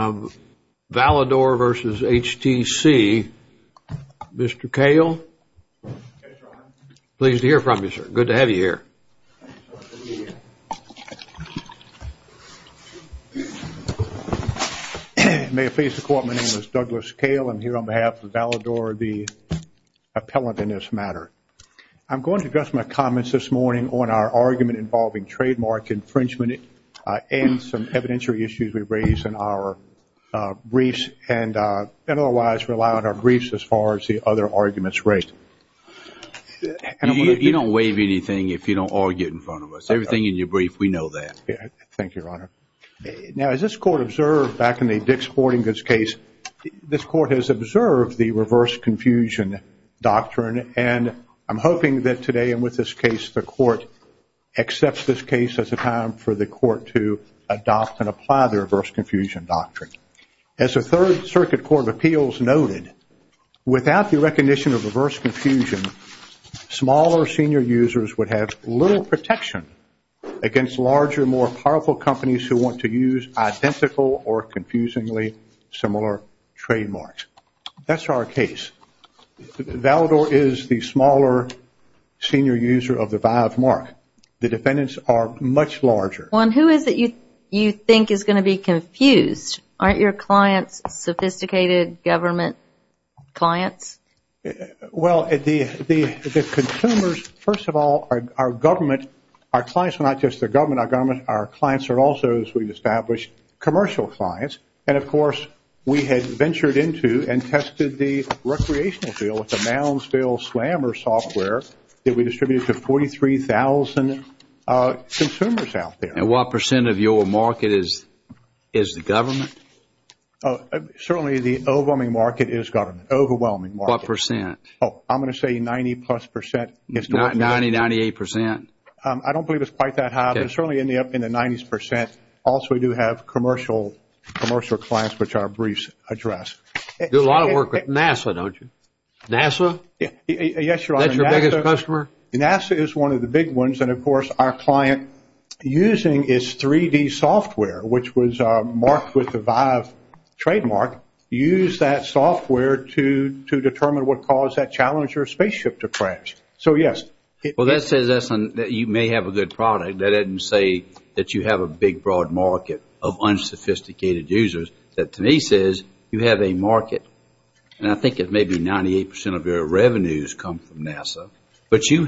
Valador v. HTC. Mr. Kale. Pleased to hear from you, sir. Good to have you here. May it please the court. My name is Douglas Kale. I'm here on behalf of Valador, the appellant in this matter. I'm going to address my comments this morning on our argument involving trademark infringement and some evidentiary issues we've raised in our briefs and otherwise rely on our briefs as far as the other arguments raised. You don't waive anything if you don't argue in front of us. Everything in your brief, we know that. Thank you, Your Honor. Now, as this court observed back in the Dix-Fortingas case, this court has observed the reverse confusion doctrine and I'm hoping that today and with this case, the court accepts this case as a time for the court to adopt and apply the reverse confusion doctrine. As the Third Circuit Court of Appeals noted, without the recognition of reverse confusion, smaller senior users would have little protection against larger, more powerful companies who want to use identical or confusingly similar trademarks. That's our case. Valador is the smaller senior user of the VIVE mark. The defendants are much larger. Juan, who is it you think is going to be confused? Aren't your clients sophisticated government clients? Well, the consumers, first of all, are government. Our clients are not just the government. Our clients are also, as we've established, commercial clients. And of course, we had ventured into and tested the recreational deal with the Moundsville Slammer software that we distributed to 43,000 consumers out there. And what percent of your market is the government? Certainly, the overwhelming market is government. Overwhelming market. What percent? Oh, I'm going to say 90 plus percent. 90, 98 percent? I don't believe it's quite that high, but certainly in the up in the 90s percent. Also, we do have commercial clients, which our briefs address. You do a lot of work with NASA, don't you? NASA? Yes, Your Honor. That's your biggest customer? NASA is one of the big ones. And of course, our client using is 3D software, which was marked with the VIVE trademark. Use that software to determine what caused that Challenger spaceship to crash. So, yes. Well, that says that you may have a good product. That doesn't say that you have a big, broad market of unsophisticated users. That, to me, says you have a market. And I think it may be 98 percent of your revenues come from you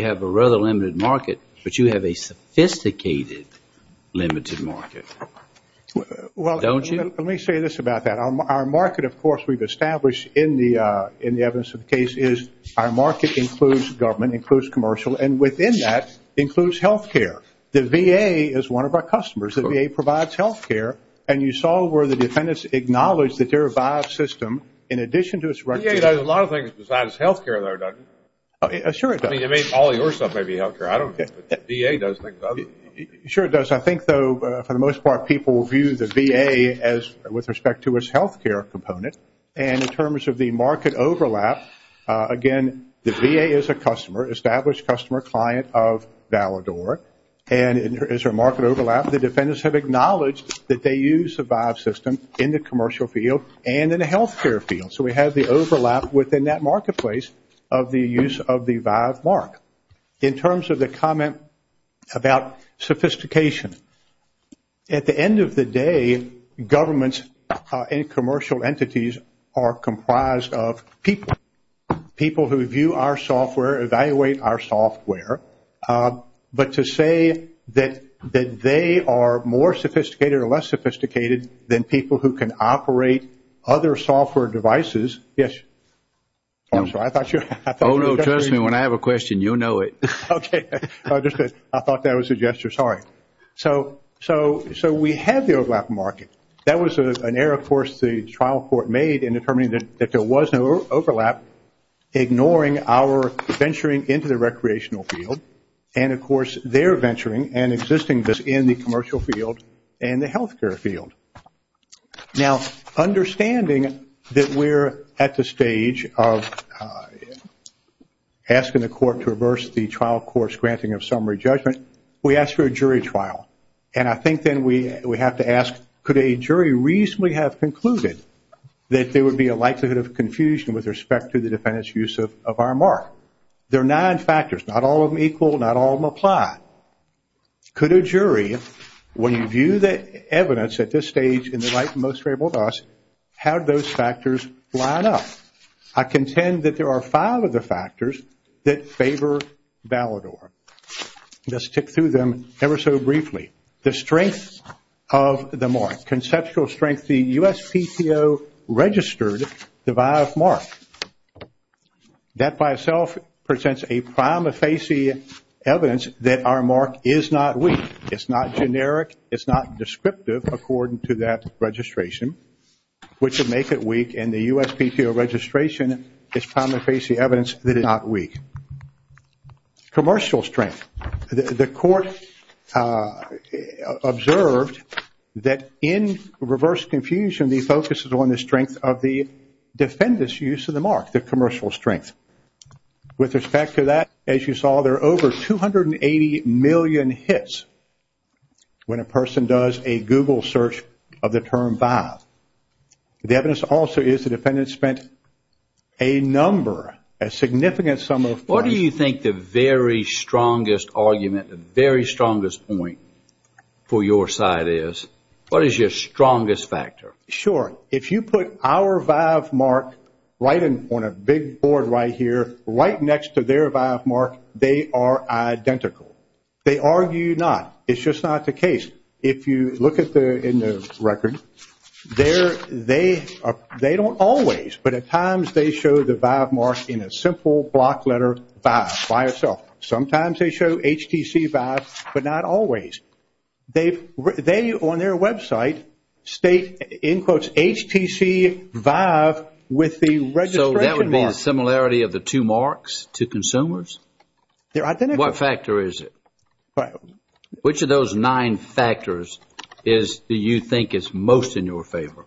have a rather limited market, but you have a sophisticated limited market. Well, don't you? Let me say this about that. Our market, of course, we've established in the in the evidence of the case is our market includes government, includes commercial, and within that includes health care. The VA is one of our customers. The VA provides health care. And you saw where the defendants acknowledged that their VIVE system, in addition to its record. The VA does a lot of things besides health care, though, doesn't it? Sure, it does. I mean, all your stuff may be health care. I don't think the VA does things other than health care. Sure, it does. I think, though, for the most part, people view the VA as with respect to its health care component. And in terms of the market overlap, again, the VA is a customer, established customer client of Valador. And there is a market overlap. The defendants have acknowledged that they use a VIVE system in the commercial field and in the health care field. So, we have the overlap within that marketplace of the use of the VIVE mark. In terms of the comment about sophistication, at the end of the day, governments and commercial entities are comprised of people. People who view our software, evaluate our software. But to say that they are more sophisticated or less sophisticated than people who can operate other software devices, yes. I'm sorry, I thought you. Oh, no, trust me. When I have a question, you'll know it. Okay, I thought that was a gesture. Sorry. So, we have the overlap market. That was an error, of course, the trial court made in determining that there was no overlap, ignoring our venturing into the recreational field and, of course, their venturing and existing this in the commercial field and the health care field. Now, understanding that we're at the stage of asking the court to reverse the trial court's granting of summary judgment, we ask for a jury trial. And I think then we have to ask, could a jury reasonably have concluded that there would be a likelihood of confusion with respect to the defendant's use of our mark? There are nine factors, not all of them equal, not all of them apply. Could a jury, when you view the evidence at this stage in the light most favorable to us, how do those factors line up? I contend that there are five of the factors that favor Valador. Let's tick through them ever so briefly. The strength of the mark, conceptual strength, the USPTO registered the VIAF mark. That by itself presents a prima facie evidence that our mark is not weak. It's not generic. It's not descriptive according to that registration, which would make it weak. And the USPTO registration is prima facie evidence that it's not weak. Commercial strength, the court observed that in reverse confusion, the focus is on the strength of the defendant's use of the mark, the commercial strength. With respect to that, as you saw, there are over 280 million hits when a person does a Google search of the term VIAF. The evidence also is the defendant spent a number, a significant sum of money. What do you think the very strongest argument, the very strongest point for your side is? What is your strongest factor? Sure. If you put our VIAF mark on a big board right here, right next to their VIAF mark, they are identical. They argue not. It's just not the case. If you look in the record, they don't always, but at times they show the VIAF mark in a simple block letter VIAF by itself. Sometimes they show HTC VIAF, but not always. They, on their website, state in quotes HTC VIAF with the registration mark. So that would be a similarity of the two marks to consumers? They're identical. What factor is it? Which of those nine factors do you think is most in your favor?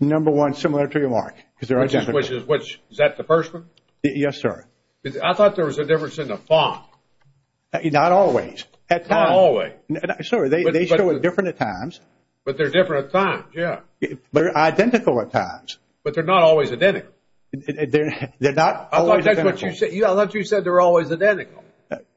Number one, similar to your mark. Is that the first one? Yes, sir. I thought there was a difference in the font. Not always. Not always. Sir, they show it different at times. But they're different at times, yeah. They're identical at times. But they're not always identical. They're not always identical. I thought you said they're always identical.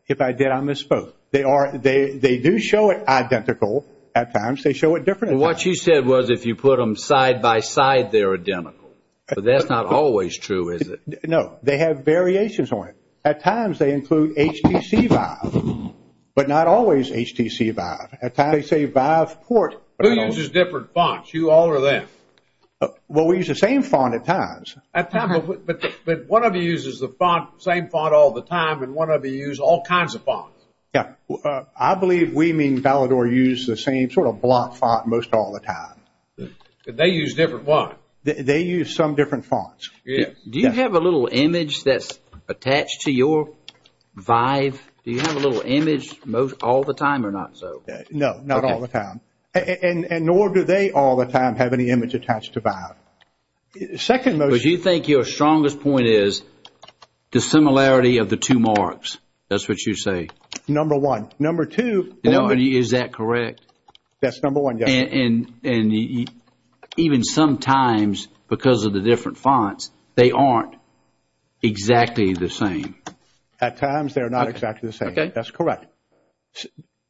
If I did, I misspoke. They do show it identical at times. They show it different at times. What you said was if you put them side by side, they're identical, but that's not always true, is it? No, they have variations on it. At times, they include HTC Vive, but not always HTC Vive. At times, they say Vive Port. Who uses different fonts? You all or them? Well, we use the same font at times. At times, but one of you uses the same font all the time and one of you use all kinds of fonts. Yeah, I believe we mean Valador use the same sort of block font most all the time. They use different font. They use some different fonts. Do you have a little image that's attached to your Vive? Do you have a little image most all the time or not so? No, not all the time and nor do they all the time have any image attached to Vive. Second most. You think your strongest point is the similarity of the two marks. That's what you say. Number one. Number two. Number two, is that correct? That's number one. And even sometimes because of the different fonts, they aren't exactly the same. At times. They're not exactly the same. Okay, that's correct.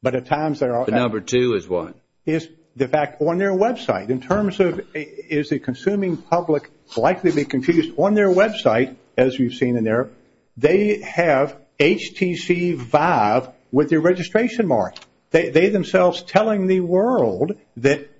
But at times there are number two is what is the fact on their website in terms of is the consuming public likely be confused on their website as you've seen in there. They have HTC Vive with your registration mark. They themselves telling the world that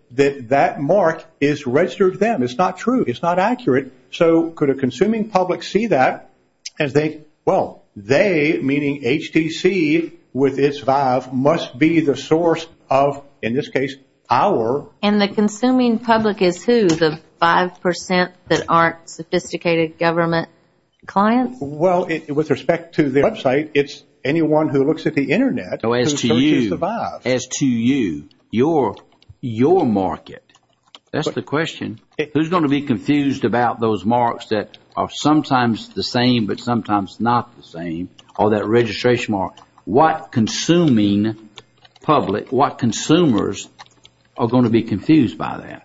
that mark is registered them. It's not true. It's not accurate. So could a consuming public see that as they well they meaning HTC with its Vive must be the source of in this case our and the consuming public is who the 5% that aren't sophisticated government clients. Well it with respect to their website. It's anyone who looks at the internet as to you as to you your your market. That's the question. Who's going to be confused about those marks that are sometimes the same but sometimes not the same or that registration mark what consuming public what consumers are going to be confused by that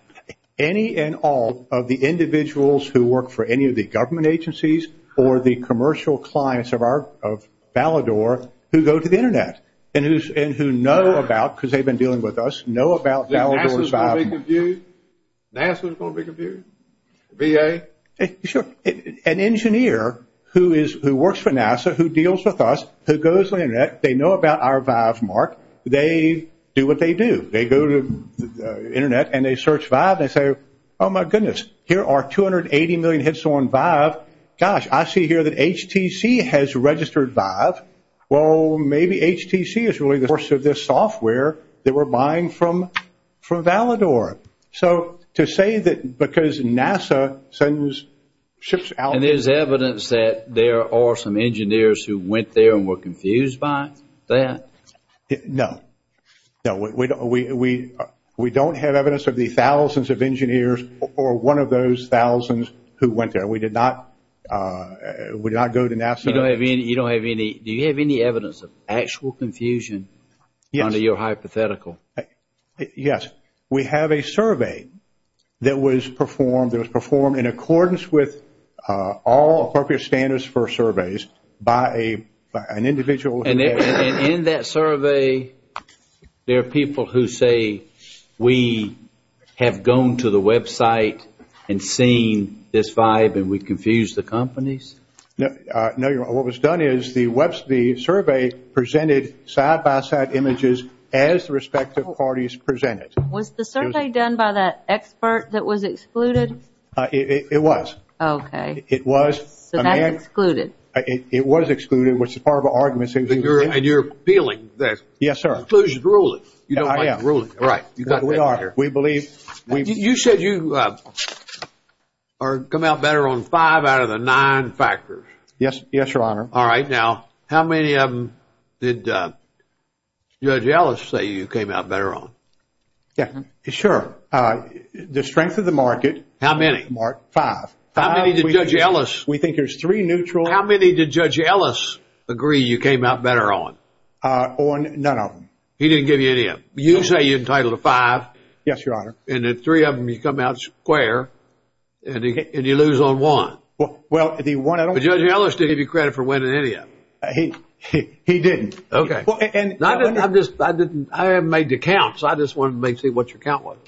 any and all of the individuals who work for any of the government agencies or the commercial clients of our of Ballard or who go to the internet and who's and who know about because they've been dealing with us know about that. We're going to stop you. That's what's going to be confused. Be a sure an engineer who is who works for NASA who deals with us who goes on the internet. They know about our valve mark. They do what they do. They go to the internet and they search vibe. They say, oh my goodness. Here are 280 million hits on vibe. Gosh, I see here that HTC has registered vibe. Well, maybe HTC is really the course of this software that we're buying from from Valador. So to say that because NASA sends ships out and there's evidence that there are some engineers who went there and were confused by that. No, no, we don't have evidence of the thousands of engineers or one of those thousands who went there. We did not would not go to NASA. You don't have any. You don't have any. Do you have any evidence of actual confusion? Yes, under your hypothetical. Yes, we have a survey that was performed that was performed in accordance with all appropriate standards for surveys by an individual. And in that survey, there are people who say we have gone to the website and seen this vibe and we confuse the companies. No, no. You're what was done is the website. The survey presented side-by-side images as the respective parties presented. Was the survey done by that expert that was excluded? It was. Okay. It was excluded. It was excluded, which is part of our argument. So you're and you're feeling that. Yes, sir. Inclusion ruling, you know, I am ruling. Right. You got we are here. We believe you said you are come out better on five out of the nine factors. Yes. Yes, your honor. All right. Now, how many of them did Judge Ellis say you came out better on? Yeah, sure. The strength of the market. How many? Mark? Five. How many did Judge Ellis? We think there's three neutral. How many did Judge Ellis agree you came out better on? On none of them. He didn't give you any of them. You say you're entitled to five. Yes, your honor. And the three of them, you come out square and you lose on one. Well, if he won, I don't know. But Judge Ellis didn't give you credit for winning any of them. He didn't. Okay. Well, and I didn't, I just, I didn't, I haven't made the count. So I just wanted to make sure what your count was.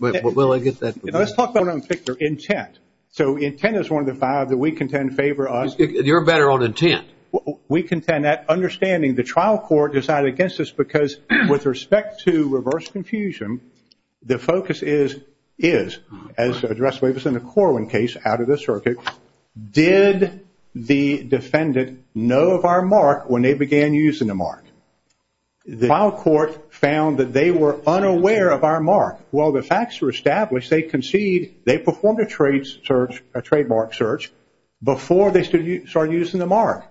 Will I get that? Let's talk about your intent. So intent is one of the five that we contend favor us. You're better on intent. We contend that understanding the trial court decided against this because with respect to reverse confusion, the focus is, as addressed in the Corwin case out of the circuit, did the defendant know of our mark when they began using the mark? The trial court found that they were unaware of our mark. Well, the facts were established. They concede they performed a trademark search before they started using the mark.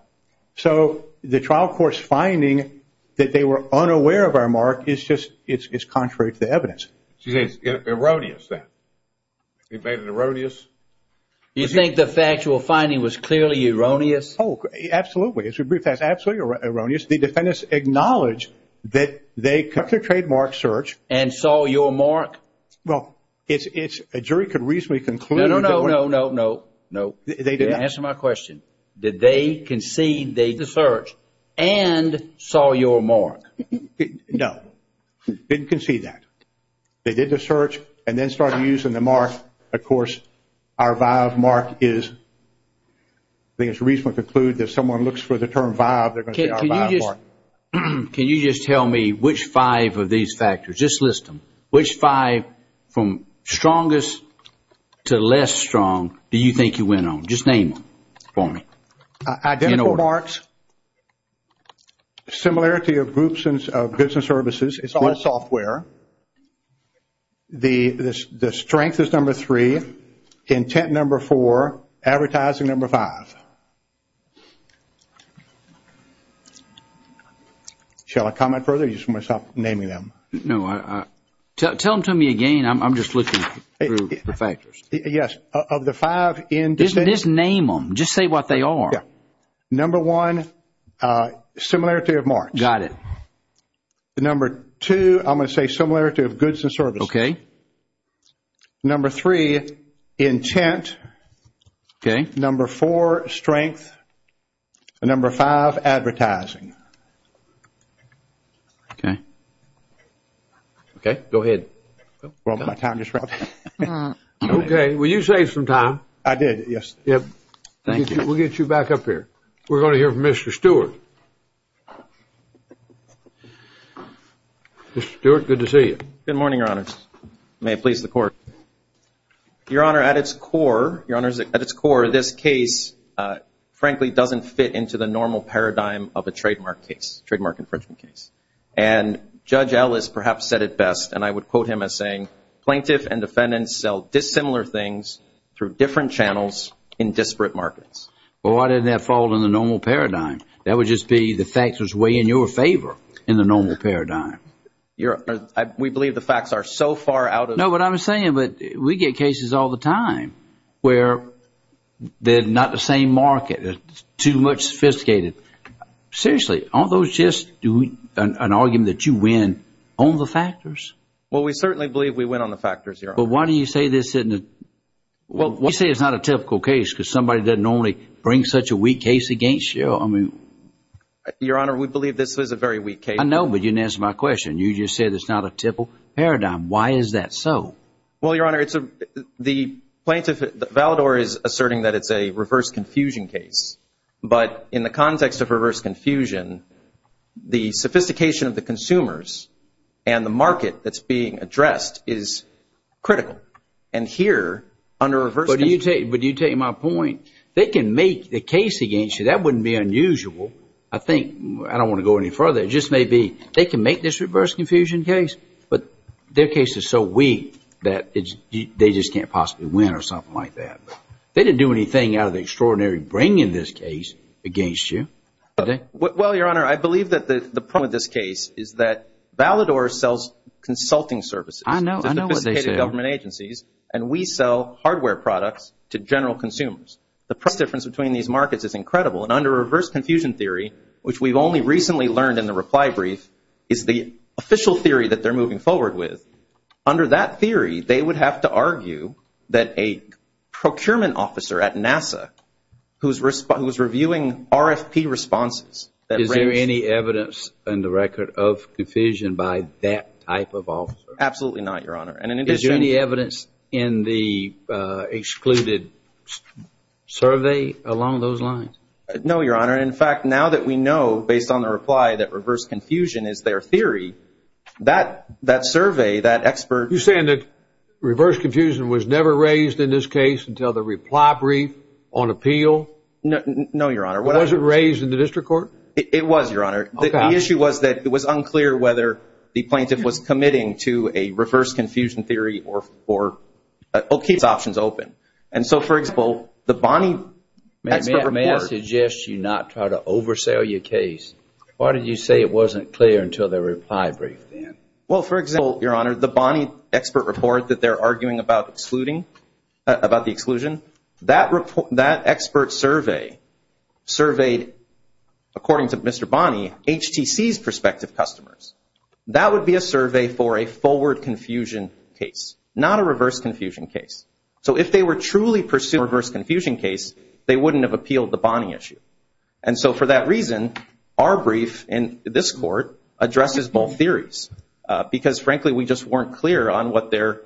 So the trial court's finding that they were unaware of our mark is just, it's contrary to the evidence. So you're saying it's erroneous then? You made it erroneous? You think the factual finding was clearly erroneous? Oh, absolutely. As we briefed, that's absolutely erroneous. The defendants acknowledged that they cut their trademark search. And saw your mark? Well, it's, it's, a jury could reasonably conclude. No, no, no, no, no, no. They did not. Answer my question. Did they concede they did the search and saw your mark? No, didn't concede that. They did the search and then started using the mark. Of course, our VIVE mark is, I think it's reasonable to conclude that if someone looks for the term VIVE, they're going to see our VIVE mark. Can you just tell me which five of these factors, just list them, which five from strongest to less strong do you think you went on? Just name them for me. Identical marks. Similarity of groups of goods and services. It's all software. The strength is number three. Content number four. Advertising number five. Shall I comment further? Or do you want me to stop naming them? No, tell them to me again. I'm just looking through the factors. Yes, of the five. Just name them. Just say what they are. Number one, similarity of marks. Got it. Number two, I'm going to say similarity of goods and services. Okay. Number three, intent. Okay. Number four, strength. Number five, advertising. Okay. Okay, go ahead. Well, my time just ran out. Okay. Well, you saved some time. I did, yes. Yep. Thank you. We'll get you back up here. We're going to hear from Mr. Stewart. Mr. Stewart, good to see you. Good morning, Your Honor. May it please the Court. Your Honor, at its core, Your Honor, at its core, this case, frankly, doesn't fit into the normal paradigm of a trademark case, trademark infringement case. And Judge Ellis perhaps said it best, and I would quote him as saying, plaintiff and defendants sell dissimilar things through different channels in disparate markets. Well, why didn't that fall in the normal paradigm? That would just be the facts was way in your favor in the normal paradigm. We believe the facts are so far out of... No, but I'm saying, but we get cases all the time where they're not the same market, too much sophisticated. Seriously, aren't those just doing an argument that you win on the factors? Well, we certainly believe we win on the factors, Your Honor. But why do you say this isn't a... Well, why do you say it's not a typical case because somebody doesn't normally bring such a weak case against you? I mean... Your Honor, we believe this was a very weak case. I know, but you didn't answer my question. You just said it's not a typical paradigm. Why is that so? Well, Your Honor, it's a... The plaintiff, Valador, is asserting that it's a reverse confusion case, but in the context of reverse confusion, the sophistication of the consumers and the market that's being addressed is critical. And here, under reverse... But do you take my point? They can make the case against you. That wouldn't be unusual. I think, I don't want to go any further. It just may be they can make this reverse confusion case, but their case is so weak that they just can't possibly win or something like that. They didn't do anything out of the extraordinary brain in this case against you. Well, Your Honor, I believe that the problem with this case is that Valador sells consulting services. I know, I know what they say. To sophisticated government agencies, and we sell hardware products to general consumers. The price difference between these markets is incredible. And under reverse confusion theory, which we've only recently learned in the reply brief, is the official theory that they're moving forward with. Under that theory, they would have to argue that a procurement officer at NASA, who's reviewing RFP responses... Is there any evidence in the record of confusion by that type of officer? Absolutely not, Your Honor. And in addition... Is there any evidence in the excluded survey along those lines? No, Your Honor. In fact, now that we know, based on the reply, that reverse confusion theory, that expert... You're saying that reverse confusion was never raised in this case until the reply brief on appeal? No, Your Honor. Was it raised in the district court? It was, Your Honor. The issue was that it was unclear whether the plaintiff was committing to a reverse confusion theory or keeps options open. And so, for example, the Bonnie expert report... May I suggest you not try to oversell your case? Why did you say it wasn't clear until the reply brief then? Well, for example, Your Honor, the Bonnie expert report that they're arguing about the exclusion, that expert survey surveyed, according to Mr. Bonnie, HTC's prospective customers. That would be a survey for a forward confusion case, not a reverse confusion case. So if they were truly pursuing a reverse confusion case, they wouldn't have appealed the Bonnie issue. And so, for that reason, our brief in this court addresses both theories because, frankly, we just weren't clear on what their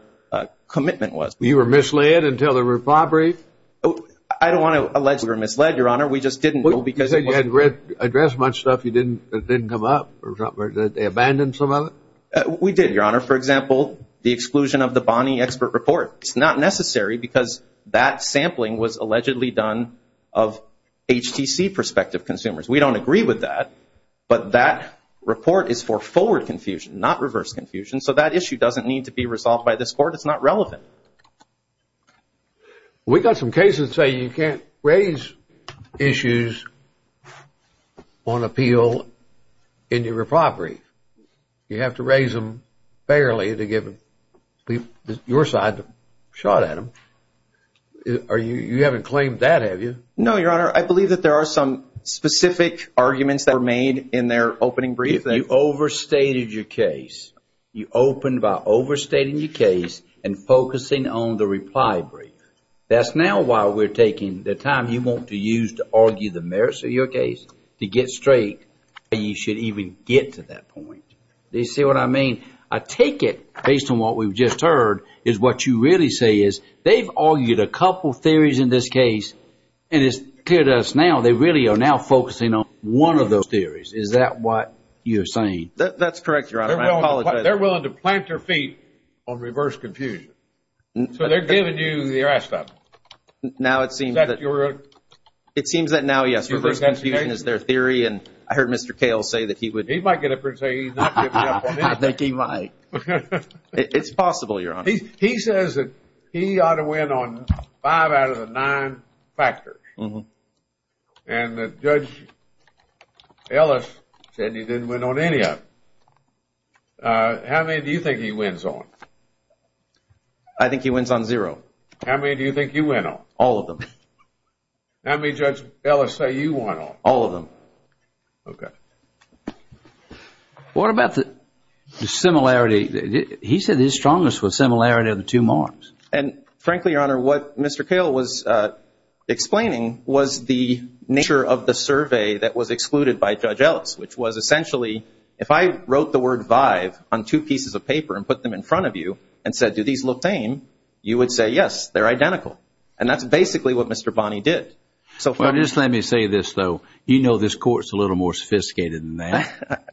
commitment was. You were misled until the reply brief? I don't want to allege we were misled, Your Honor. We just didn't know because... You said you hadn't read, addressed much stuff that didn't come up or something, that they abandoned some of it? We did, Your Honor. For example, the exclusion of the Bonnie expert report. It's not necessary because that sampling was allegedly done of HTC prospective consumers. We don't agree with that, but that report is for forward confusion, not reverse confusion. So that issue doesn't need to be resolved by this court. It's not relevant. We got some cases say you can't raise issues on appeal in your reply brief. You have to raise them fairly to give your side a shot at No, Your Honor. I believe that there are some specific arguments that were made in their opening brief. You overstated your case. You opened by overstating your case and focusing on the reply brief. That's now why we're taking the time you want to use to argue the merits of your case to get straight. You should even get to that point. Do you see what I mean? I take it, based on what we've just heard, is what you really say is they've argued a couple theories in this case, and it's clear to us now they really are now focusing on one of those theories. Is that what you're saying? That's correct, Your Honor. I apologize. They're willing to plant their feet on reverse confusion. So they're giving you the rest of them. Now, it seems that now, yes, reverse confusion is their theory, and I heard Mr. Kales say that he would. He might get up and say he's not giving up on anything. I think he might. It's possible, Your Honor. He says that he ought to win on five out of the nine factors. And Judge Ellis said he didn't win on any of them. How many do you think he wins on? I think he wins on zero. How many do you think you win on? All of them. How many does Judge Ellis say you win on? All of them. Okay. What about the similarity? He said his strongest was similarity of the two marks. And frankly, Your Honor, what Mr. Kale was explaining was the nature of the survey that was excluded by Judge Ellis, which was essentially, if I wrote the word vive on two pieces of paper and put them in front of you and said, do these look the same? You would say, yes, they're identical. And that's basically what Mr. Bonney did. So just let me say this, though. You know, this court is a little more sophisticated than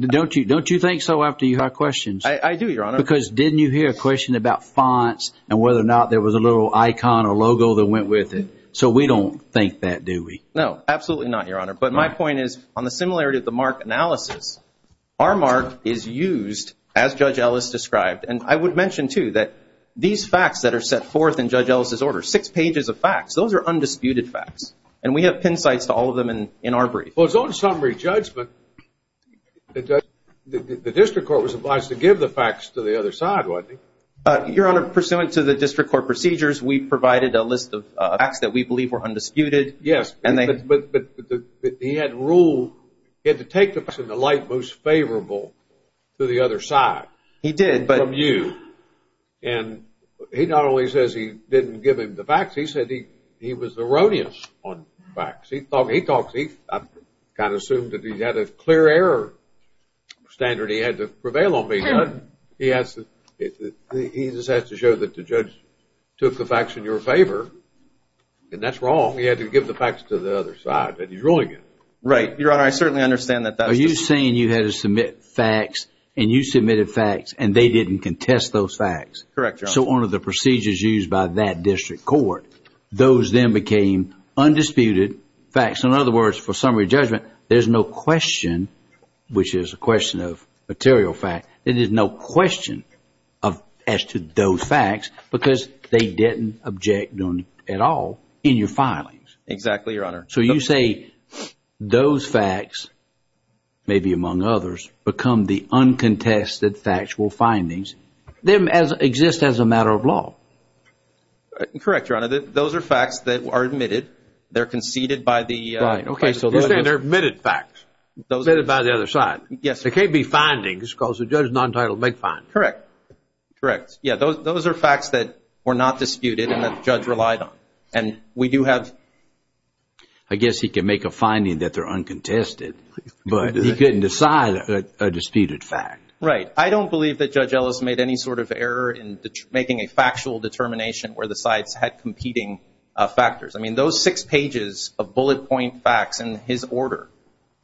Don't you think so after you have questions? I do, Your Honor. Because didn't you hear a question about fonts and whether or not there was a little icon or logo that went with it? So we don't think that, do we? No, absolutely not, Your Honor. But my point is, on the similarity of the mark analysis, our mark is used as Judge Ellis described. And I would mention, too, that these facts that are set forth in Judge Ellis's order, six pages of facts, those are undisputed facts. And we have pin sites to all of them in our brief. Well, it's on summary judgment. But the district court was advised to give the facts to the other side, wasn't he? Your Honor, pursuant to the district court procedures, we provided a list of facts that we believe were undisputed. Yes, but he had ruled, he had to take the facts in the light most favorable to the other side. He did, but. From you. And he not only says he didn't give him the facts, he said he was erroneous on facts. He thought he thought he kind of assumed that he had a clear error standard. He had to prevail on me. He has to, he just has to show that the judge took the facts in your favor. And that's wrong. He had to give the facts to the other side that he's ruling it. Right, Your Honor. I certainly understand that. Are you saying you had to submit facts and you submitted facts and they didn't contest those facts? Correct, Your Honor. So one of the procedures used by that district court, those then became undisputed facts. In other words, for summary judgment, there's no question, which is a question of material fact. It is no question of as to those facts because they didn't object at all in your filings. Exactly, Your Honor. So you say those facts, maybe among others, become the uncontested factual findings. They exist as a matter of law. Correct, Your Honor. Those are facts that are admitted. They're conceded by the. Right. Okay. So they're admitted facts, admitted by the other side. Yes. They can't be findings because the judge non-titled make findings. Correct. Correct. Yeah, those are facts that were not disputed and the judge relied on. And we do have. I guess he can make a finding that they're uncontested, but he couldn't decide a disputed fact. Right. I don't believe that Judge Ellis made any sort of error in making a factual determination where the sides had competing factors. I mean, those six pages of bullet point facts in his order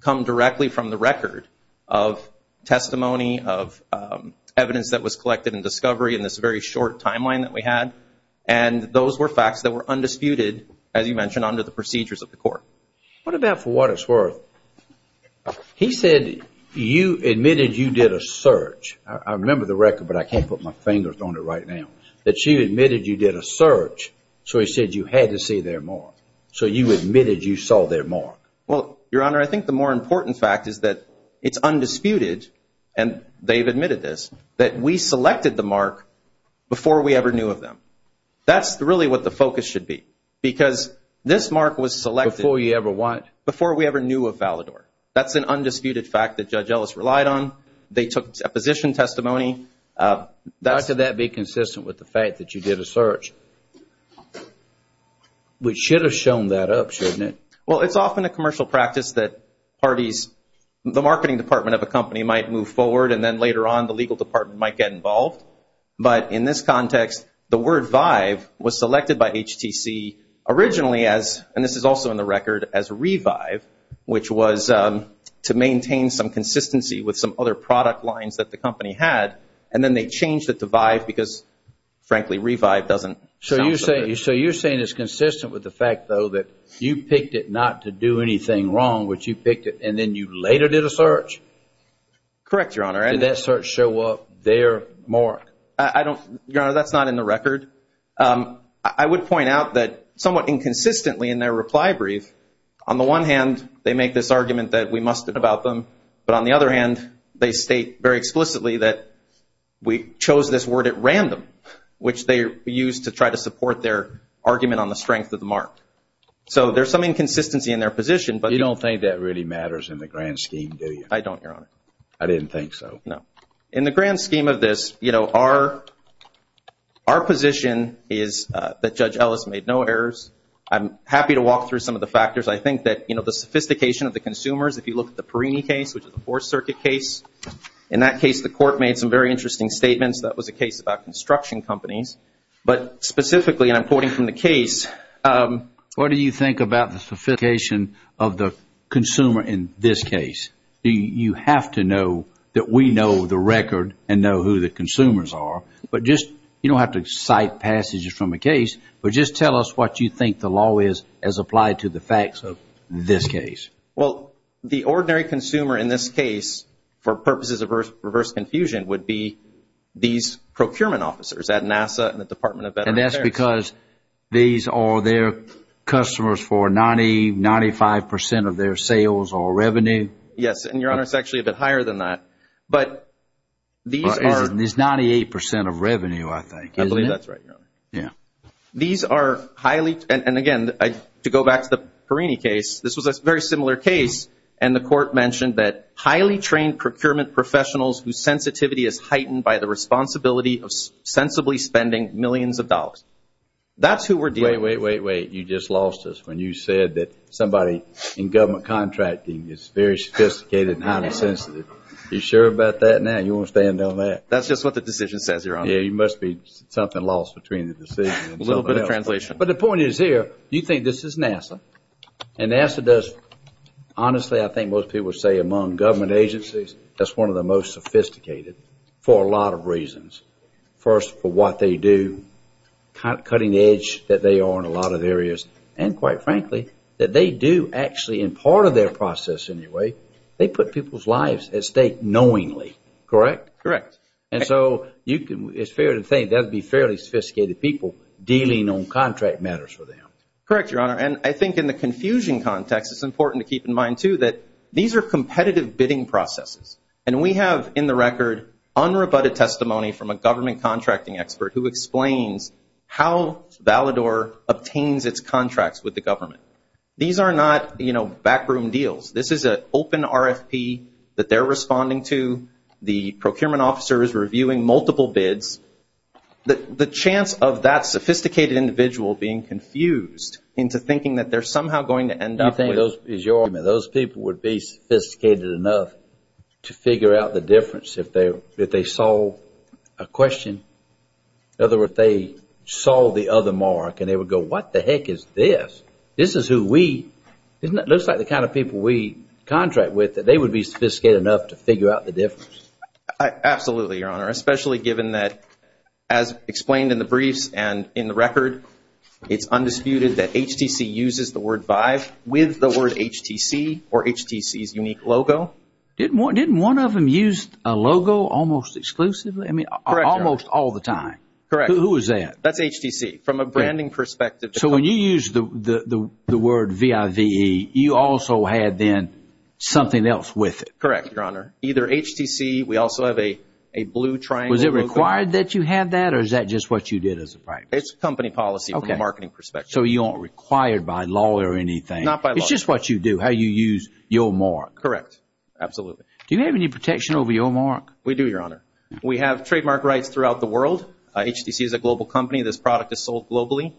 come directly from the record of testimony of evidence that was collected in discovery in this very short timeline that we had. And those were facts that were undisputed, as you mentioned, under the procedures of the court. What about for what it's worth? He said you admitted you did a search. I remember the record, but I can't put my fingers on it right now, that she admitted you did a search. So he said you had to see their mark. So you admitted you saw their mark. Well, Your Honor, I think the more important fact is that it's undisputed, and they've admitted this, that we selected the mark before we ever knew of them. That's really what the focus should be because this mark was selected. Before you ever what? Before we ever knew of Valador. That's an undisputed fact that Judge Ellis relied on. They took a position testimony. How could that be consistent with the fact that you did a search? We should have shown that up, shouldn't it? Well, it's often a commercial practice that parties, the marketing department of a company might move forward and then later on the legal department might get involved. But in this context, the word Vive was selected by HTC originally as, and this is also in the record, as Revive, which was to maintain some consistency with some other product lines that the company had, and then they changed it to Vive because, frankly, Revive doesn't. So you're saying it's consistent with the fact, though, that you picked it not to do anything wrong, which you picked it, and then you later did a search? Correct, Your Honor. Did that search show up their mark? I don't, Your Honor, that's not in the record. I would point out that somewhat inconsistently in their reply brief, on the one hand, they make this argument that we must about them, but on the other hand, they state very explicitly that we chose this word at random, which they used to try to support their argument on the strength of the mark. So there's some inconsistency in their position. But you don't think that really matters in the grand scheme, do you? I don't, Your Honor. I didn't think so. No. In the grand scheme of this, you know, our position is that Judge Ellis made no errors. I'm happy to walk through some of the factors. I think that, you know, the sophistication of the consumers, if you look at the Perini case, which is a Fourth Circuit case, in that case, the court made some very interesting statements. That was a case about construction companies. But specifically, and I'm quoting from the case. What do you think about the sophistication of the consumer in this case? You have to know that we know the record and know who the consumers are, but just, you don't have to cite passages from a case, but just tell us what you think the law is as applied to the facts of this case. Well, the ordinary consumer in this case, for purposes of reverse confusion, would be these procurement officers at NASA and the Department of Veterans Affairs. And that's because these are their customers for 90, 95 percent of their sales or revenue? Yes, and, Your Honor, it's actually a bit higher than that. But these are. But it's 98 percent of revenue, I think. I believe that's right, Your Honor. Yeah. These are highly, and again, to go back to the Perini case, this was a very similar case, and the court mentioned that highly trained procurement professionals whose sensitivity is heightened by the responsibility of sensibly spending millions of dollars. That's who we're dealing with. Wait, wait, wait, wait. You just lost us when you said that somebody in government contracting is very sophisticated and highly sensitive. Are you sure about that now? You want to stand on that? That's just what the decision says, Your Honor. A little bit of translation. But the point is here, you think this is NASA, and NASA does, honestly, I think most people would say among government agencies, that's one of the most sophisticated for a lot of reasons. First, for what they do, cutting edge that they are in a lot of areas, and quite frankly, that they do actually in part of their process anyway, they put people's lives at stake knowingly, correct? Correct. And so you can, it's fair to think that would be fairly contract matters for them. Correct, Your Honor. And I think in the confusion context, it's important to keep in mind, too, that these are competitive bidding processes. And we have, in the record, unrebutted testimony from a government contracting expert who explains how Valador obtains its contracts with the government. These are not, you know, backroom deals. This is an open RFP that they're responding to. The procurement officer is reviewing multiple bids. The chance of that sophisticated individual being confused into thinking that they're somehow going to end up with You think those people would be sophisticated enough to figure out the difference if they solve a question? In other words, if they saw the other mark and they would go, what the heck is this? This is who we, isn't it? It looks like the kind of people we contract with, that they would be sophisticated enough to figure out the difference. Absolutely, Your Honor, especially given that, as explained in the briefs and in the record, it's undisputed that HTC uses the word VIVE with the word HTC or HTC's unique logo. Didn't one of them use a logo almost exclusively? I mean, almost all the time. Correct. Who is that? That's HTC. From a branding perspective. So when you use the word VIVE, you also had then something else with it. Correct, Your Honor. Either HTC, we also have a blue triangle. Was it required that you had that or is that just what you did as a practice? It's company policy from a marketing perspective. So you aren't required by law or anything. Not by law. It's just what you do, how you use your mark. Correct, absolutely. Do you have any protection over your mark? We do, Your Honor. We have trademark rights throughout the world. HTC is a global company. This product is sold globally.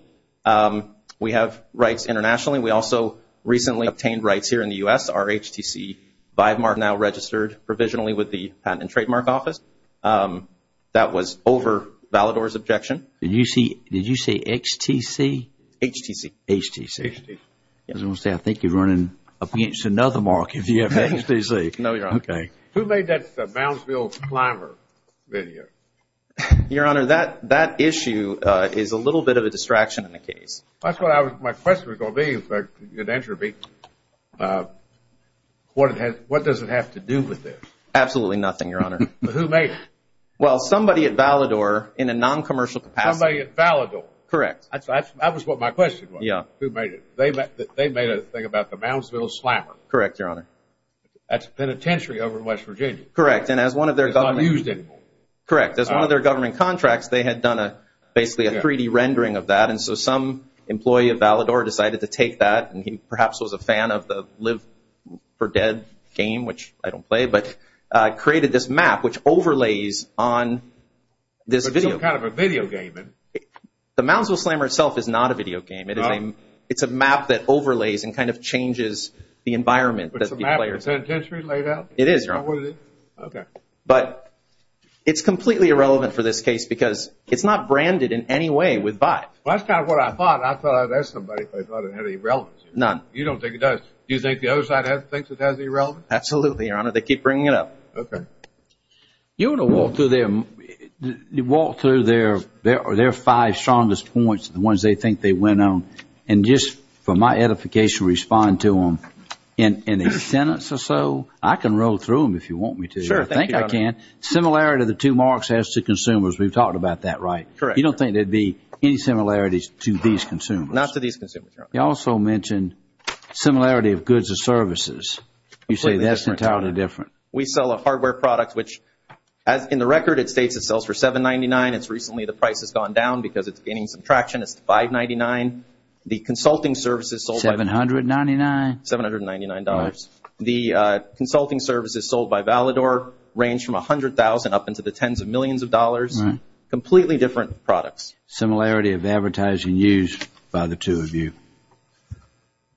We have rights internationally. We also recently obtained rights here in the U.S. Our HTC VIVE mark is now registered provisionally with the Patent and Trademark Office. That was over Valador's objection. Did you say HTC? HTC. HTC. I was going to say, I think you're running up against another mark if you have HTC. No, Your Honor. Okay. Who made that Brownsville climber video? Your Honor, that issue is a little bit of a distraction in the case. That's what my question was going to be, if you could answer me. What does it have to do with this? Absolutely nothing, Your Honor. Who made it? Well, somebody at Valador in a non-commercial capacity. Somebody at Valador? Correct. That was what my question was. Yeah. Who made it? They made a thing about the Brownsville slammer. Correct, Your Honor. That's a penitentiary over in West Virginia. Correct, and as one of their government... It's not used anymore. Correct. As one of their government contracts, they had done basically a 3D rendering of that. And so some employee of Valador decided to take that and he perhaps was a fan of the Live for Dead game, which I don't play, but created this map which overlays on this video. It's some kind of a video game. The Brownsville slammer itself is not a video game. It's a map that overlays and kind of changes the environment that the player... Is the map a penitentiary laid out? It is, Your Honor. Oh, is it? But it's completely irrelevant for this case because it's not branded in any way with V.I.T.E. Well, that's kind of what I thought. I thought that somebody thought it had any relevance. None. You don't think it does? Do you think the other side thinks it has any relevance? Absolutely, Your Honor. They keep bringing it up. Okay. You want to walk through their five strongest points, the ones they think they went on, and just for my edification, respond to them in a sentence or so. I can roll through them if you want me to. Sure. I think I can. Similarity of the two marks as to consumers. We've talked about that, right? Correct. You don't think there'd be any similarities to these consumers? Not to these consumers, Your Honor. You also mentioned similarity of goods and services. You say that's entirely different. We sell a hardware product which, as in the record, it states it sells for $7.99. It's recently the price has gone down because it's gaining some traction. It's $5.99. The consulting services sold by... $799. $799. The consulting services sold by Valador range from $100,000 up into the tens of millions of dollars, completely different products. Similarity of advertising used by the two of you.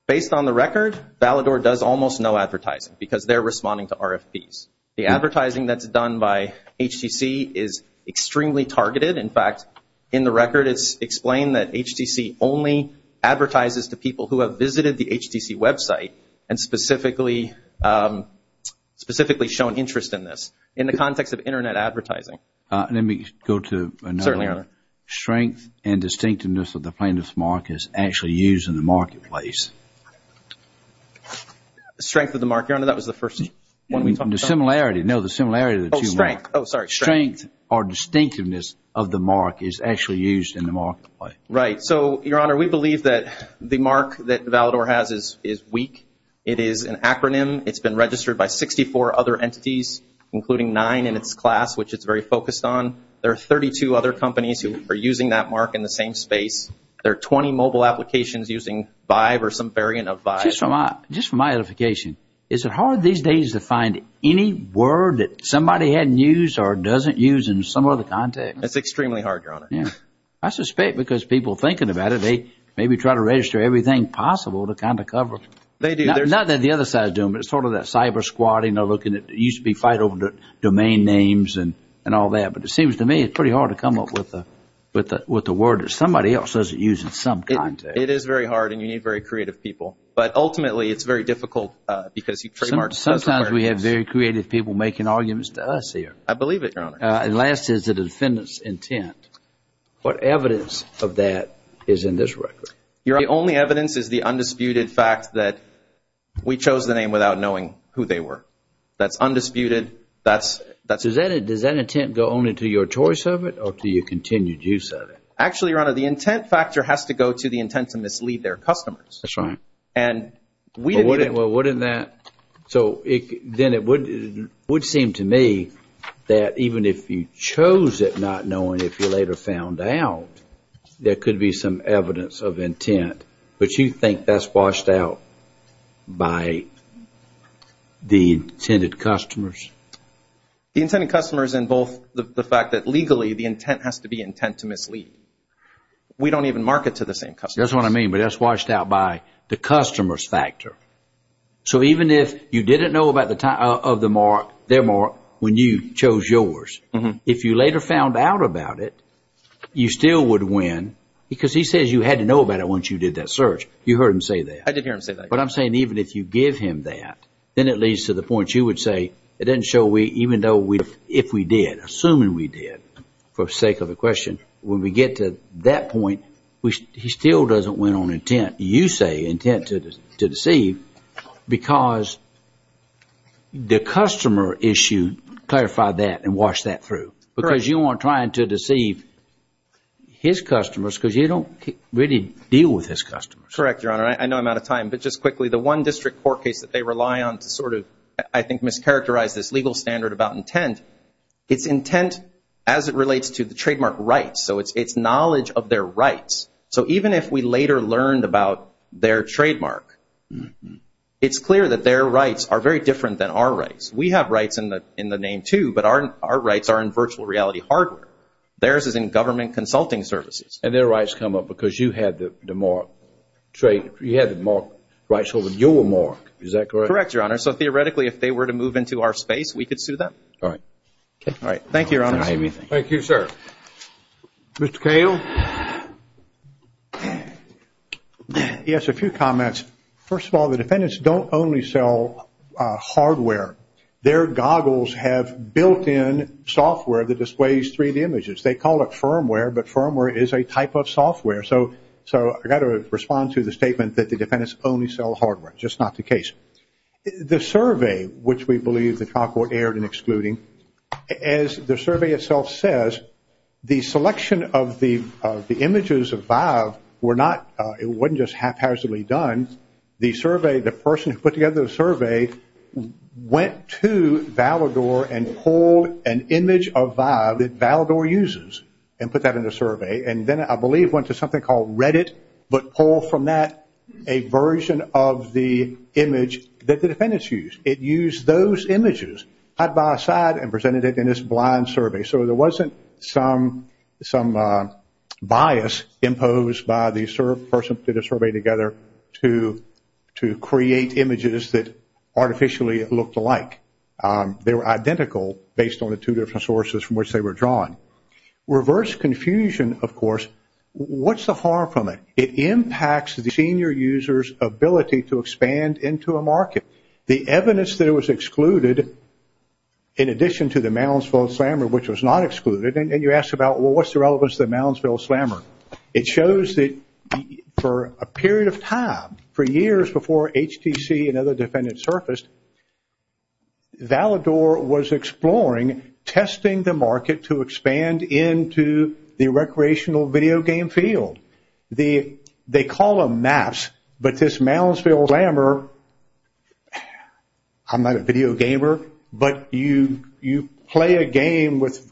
Based on the record, Valador does almost no advertising because they're responding to RFPs. The advertising that's done by HTC is extremely targeted. In fact, in the record, it's explained that HTC only advertises to people who have visited the HTC website and specifically shown interest in this, in the context of internet advertising. Let me go to another. Certainly, Your Honor. Strength and distinctiveness of the plaintiff's mark is actually used in the marketplace. Strength of the mark, Your Honor. That was the first one we talked about. The similarity. No, the similarity of the two marks. Oh, strength. Oh, sorry. Strength or distinctiveness of the mark is actually used in the marketplace. Right. So, Your Honor, we believe that the mark that Valador has is weak. It is an acronym. It's been registered by 64 other entities, including nine in its class, which it's very focused on. There are 32 other companies who are using that mark in the same space. There are 20 mobile applications using VIVE or some variant of VIVE. Just from my edification, is it hard these days to find any word that somebody hadn't used or doesn't use in some other context? It's extremely hard, Your Honor. Yeah. I suspect because people are thinking about it, they maybe try to register everything possible to kind of cover. They do. Not that the other side is doing, but it's sort of that cyber squatting or looking at, it used to be fight over the domain names and all that. But it seems to me, it's pretty hard to come up with the word that somebody else doesn't use in some context. It is very hard and you need very creative people. But ultimately, it's very difficult because you trademark certain variables. Sometimes we have very creative people making arguments to us here. I believe it, Your Honor. And last is the defendant's intent. What evidence of that is in this record? Your Honor, the only evidence is the undisputed fact that we chose the name without knowing who they were. That's undisputed. Does that intent go only to your choice of it or to your continued use of it? Actually, Your Honor, the intent factor has to go to the intent to mislead their customers. That's right. And we didn't... Well, wouldn't that... So then it would seem to me that even if you chose it not knowing, if you later found out, there could be some evidence of intent. But you think that's washed out by the intended customers? The intended customers involve the fact that legally, the intent has to be intent to mislead. We don't even mark it to the same customers. That's what I mean, but that's washed out by the customers factor. So even if you didn't know about the time of their mark when you chose yours, if you later found out about it, you still would win because he says you had to know about it once you did that search. You heard him say that. I did hear him say that. But I'm saying even if you give him that, then it leads to the point you would say, it doesn't show we, even though we, if we did, assuming we did, for sake of the question, when we get to that point, he still doesn't win on intent. You say intent to deceive because the customer issue, clarify that and wash that through. Because you aren't trying to deceive his customers because you don't really deal with his customers. Correct, Your Honor. I know I'm out of time, but just quickly, the one district court case that they rely on to sort of, I think, mischaracterize this legal standard about intent, it's intent as it relates to the trademark rights. So it's knowledge of their rights. So even if we later learned about their trademark, it's clear that their rights are very different than our rights. We have rights in the name too, but our rights are in virtual reality hardware. Theirs is in government consulting services. And their rights come up because you had the mark, you had the mark rights over your mark. Is that correct? Correct, Your Honor. So theoretically, if they were to move into our space, we could sue them. All right. Okay. All right. Thank you, Your Honor. Thank you, sir. Mr. Cahill. Yes, a few comments. First of all, the defendants don't only sell hardware. Their goggles have built-in software that displays 3D images. They call it firmware, but firmware is a type of software. So I got to respond to the statement that the defendants only sell hardware. Just not the case. The survey, which we believe the trial court erred in excluding, as the survey itself says, the selection of the images of Vive were not, it wasn't just haphazardly done. The survey, the person who put together the survey went to Valador and pulled an image of Vive that Valador uses and put that in the survey. And then I believe went to something called Reddit, but pulled from that a version of the image that the defendants used. It used those images side by side and presented it in this blind survey. So there wasn't some bias imposed by the person who did the survey together to create images that artificially looked alike. They were identical based on the two different sources from which they were drawn. Reverse confusion, of course, what's the harm from it? It impacts the senior user's ability to expand into a market. The evidence that it was excluded, in addition to the Moundsville Slammer, which was not excluded, and you ask about, well, what's the relevance of the Moundsville Slammer? It shows that for a period of time, for years before HTC and other defendants surfaced, Valador was exploring, testing the market to expand into the recreational video game field. They call them maps, but this Moundsville Slammer, I'm not a video gamer, but you play a game with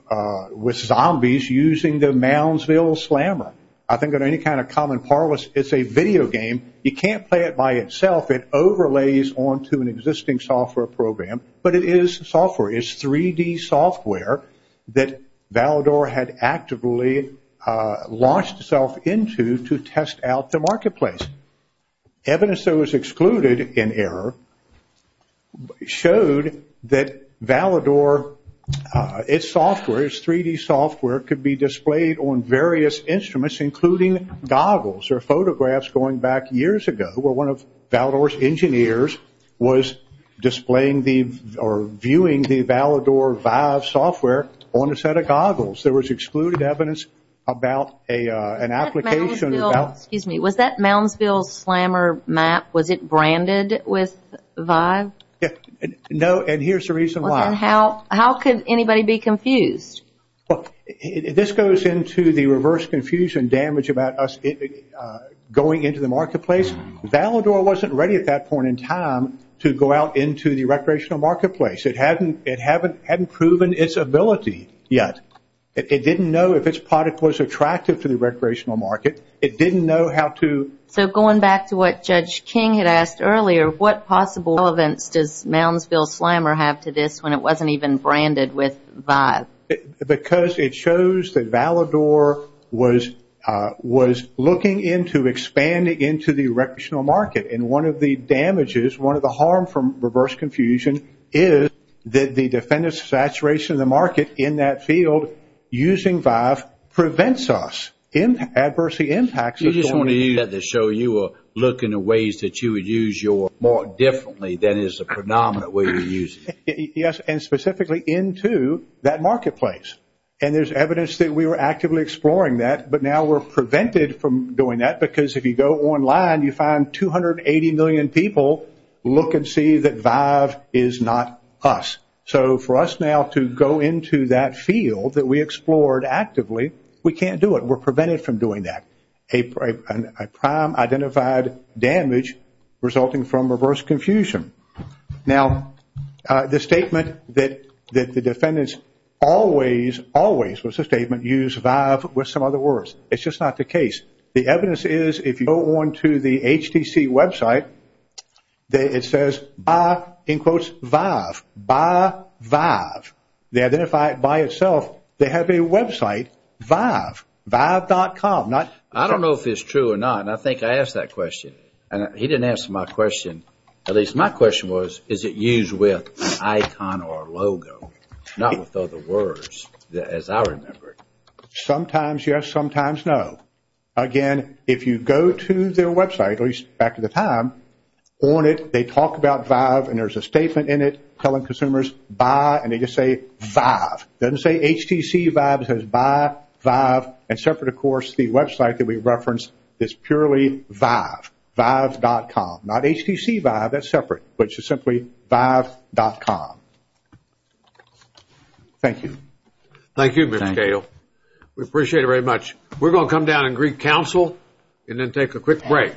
zombies using the Moundsville Slammer. I think that any kind of common parlance, it's a video game. You can't play it by itself. It overlays onto an existing software program, but it is software. It's 3D software that Valador had actively launched itself into to test out the marketplace. Evidence that was excluded in error showed that Valador, its software, its 3D software could be displayed on various instruments, including goggles. There are photographs going back years ago where one of Valador's engineers was displaying or viewing the Valador Vive software on a set of goggles. There was excluded evidence about an application. Was that Moundsville Slammer map, was it branded with Vive? No, and here's the reason why. How could anybody be confused? This goes into the reverse confusion damage about us going into the marketplace. Valador wasn't ready at that point in time to go out into the recreational marketplace. It hadn't proven its ability yet. It didn't know if its product was attractive to the recreational market. It didn't know how to... So going back to what Judge King had asked earlier, what possible relevance does Moundsville Slammer have to this when it wasn't even branded with Vive? Because it shows that Valador was looking into expanding into the recreational market, and one of the damages, one of the harm from reverse confusion is that the defendant's saturation in the market in that field using Vive prevents us. Adversity impacts us. You just want to use that to show you are looking at ways that you would use your mark differently than is a predominant way to use it. Yes, and specifically into that marketplace, and there's evidence that we were actively exploring that, but now we're prevented from doing that because if you go online, you find 280 million people look and see that Vive is not us. So for us now to go into that field that we explored actively, we can't do it. We're prevented from doing that. A prime identified damage resulting from reverse confusion. Now, the statement that the defendants always, always was a statement used Vive with some other words. It's just not the case. The evidence is if you go on to the HTC website, it says, in quotes, Vive, Vive, Vive. They identify it by itself. They have a website, Vive, Vive.com. I don't know if it's true or not, and I think I asked that question, and he didn't answer my question. At least my question was, is it used with icon or logo, not with other words as I remember it? Sometimes yes, sometimes no. Again, if you go to their website, at least back in the time, on it, they talk about Vive, and there's a statement in it telling consumers, buy, and they just say, Vive. Doesn't say HTC Vive, it says, buy, Vive, and separate, of course, the website that we referenced is purely Vive, Vive.com. Not HTC Vive, that's separate, which is simply Vive.com. Thank you. Thank you, Mr. Cato. We appreciate it very much. We're going to come down and greet counsel and then take a quick break.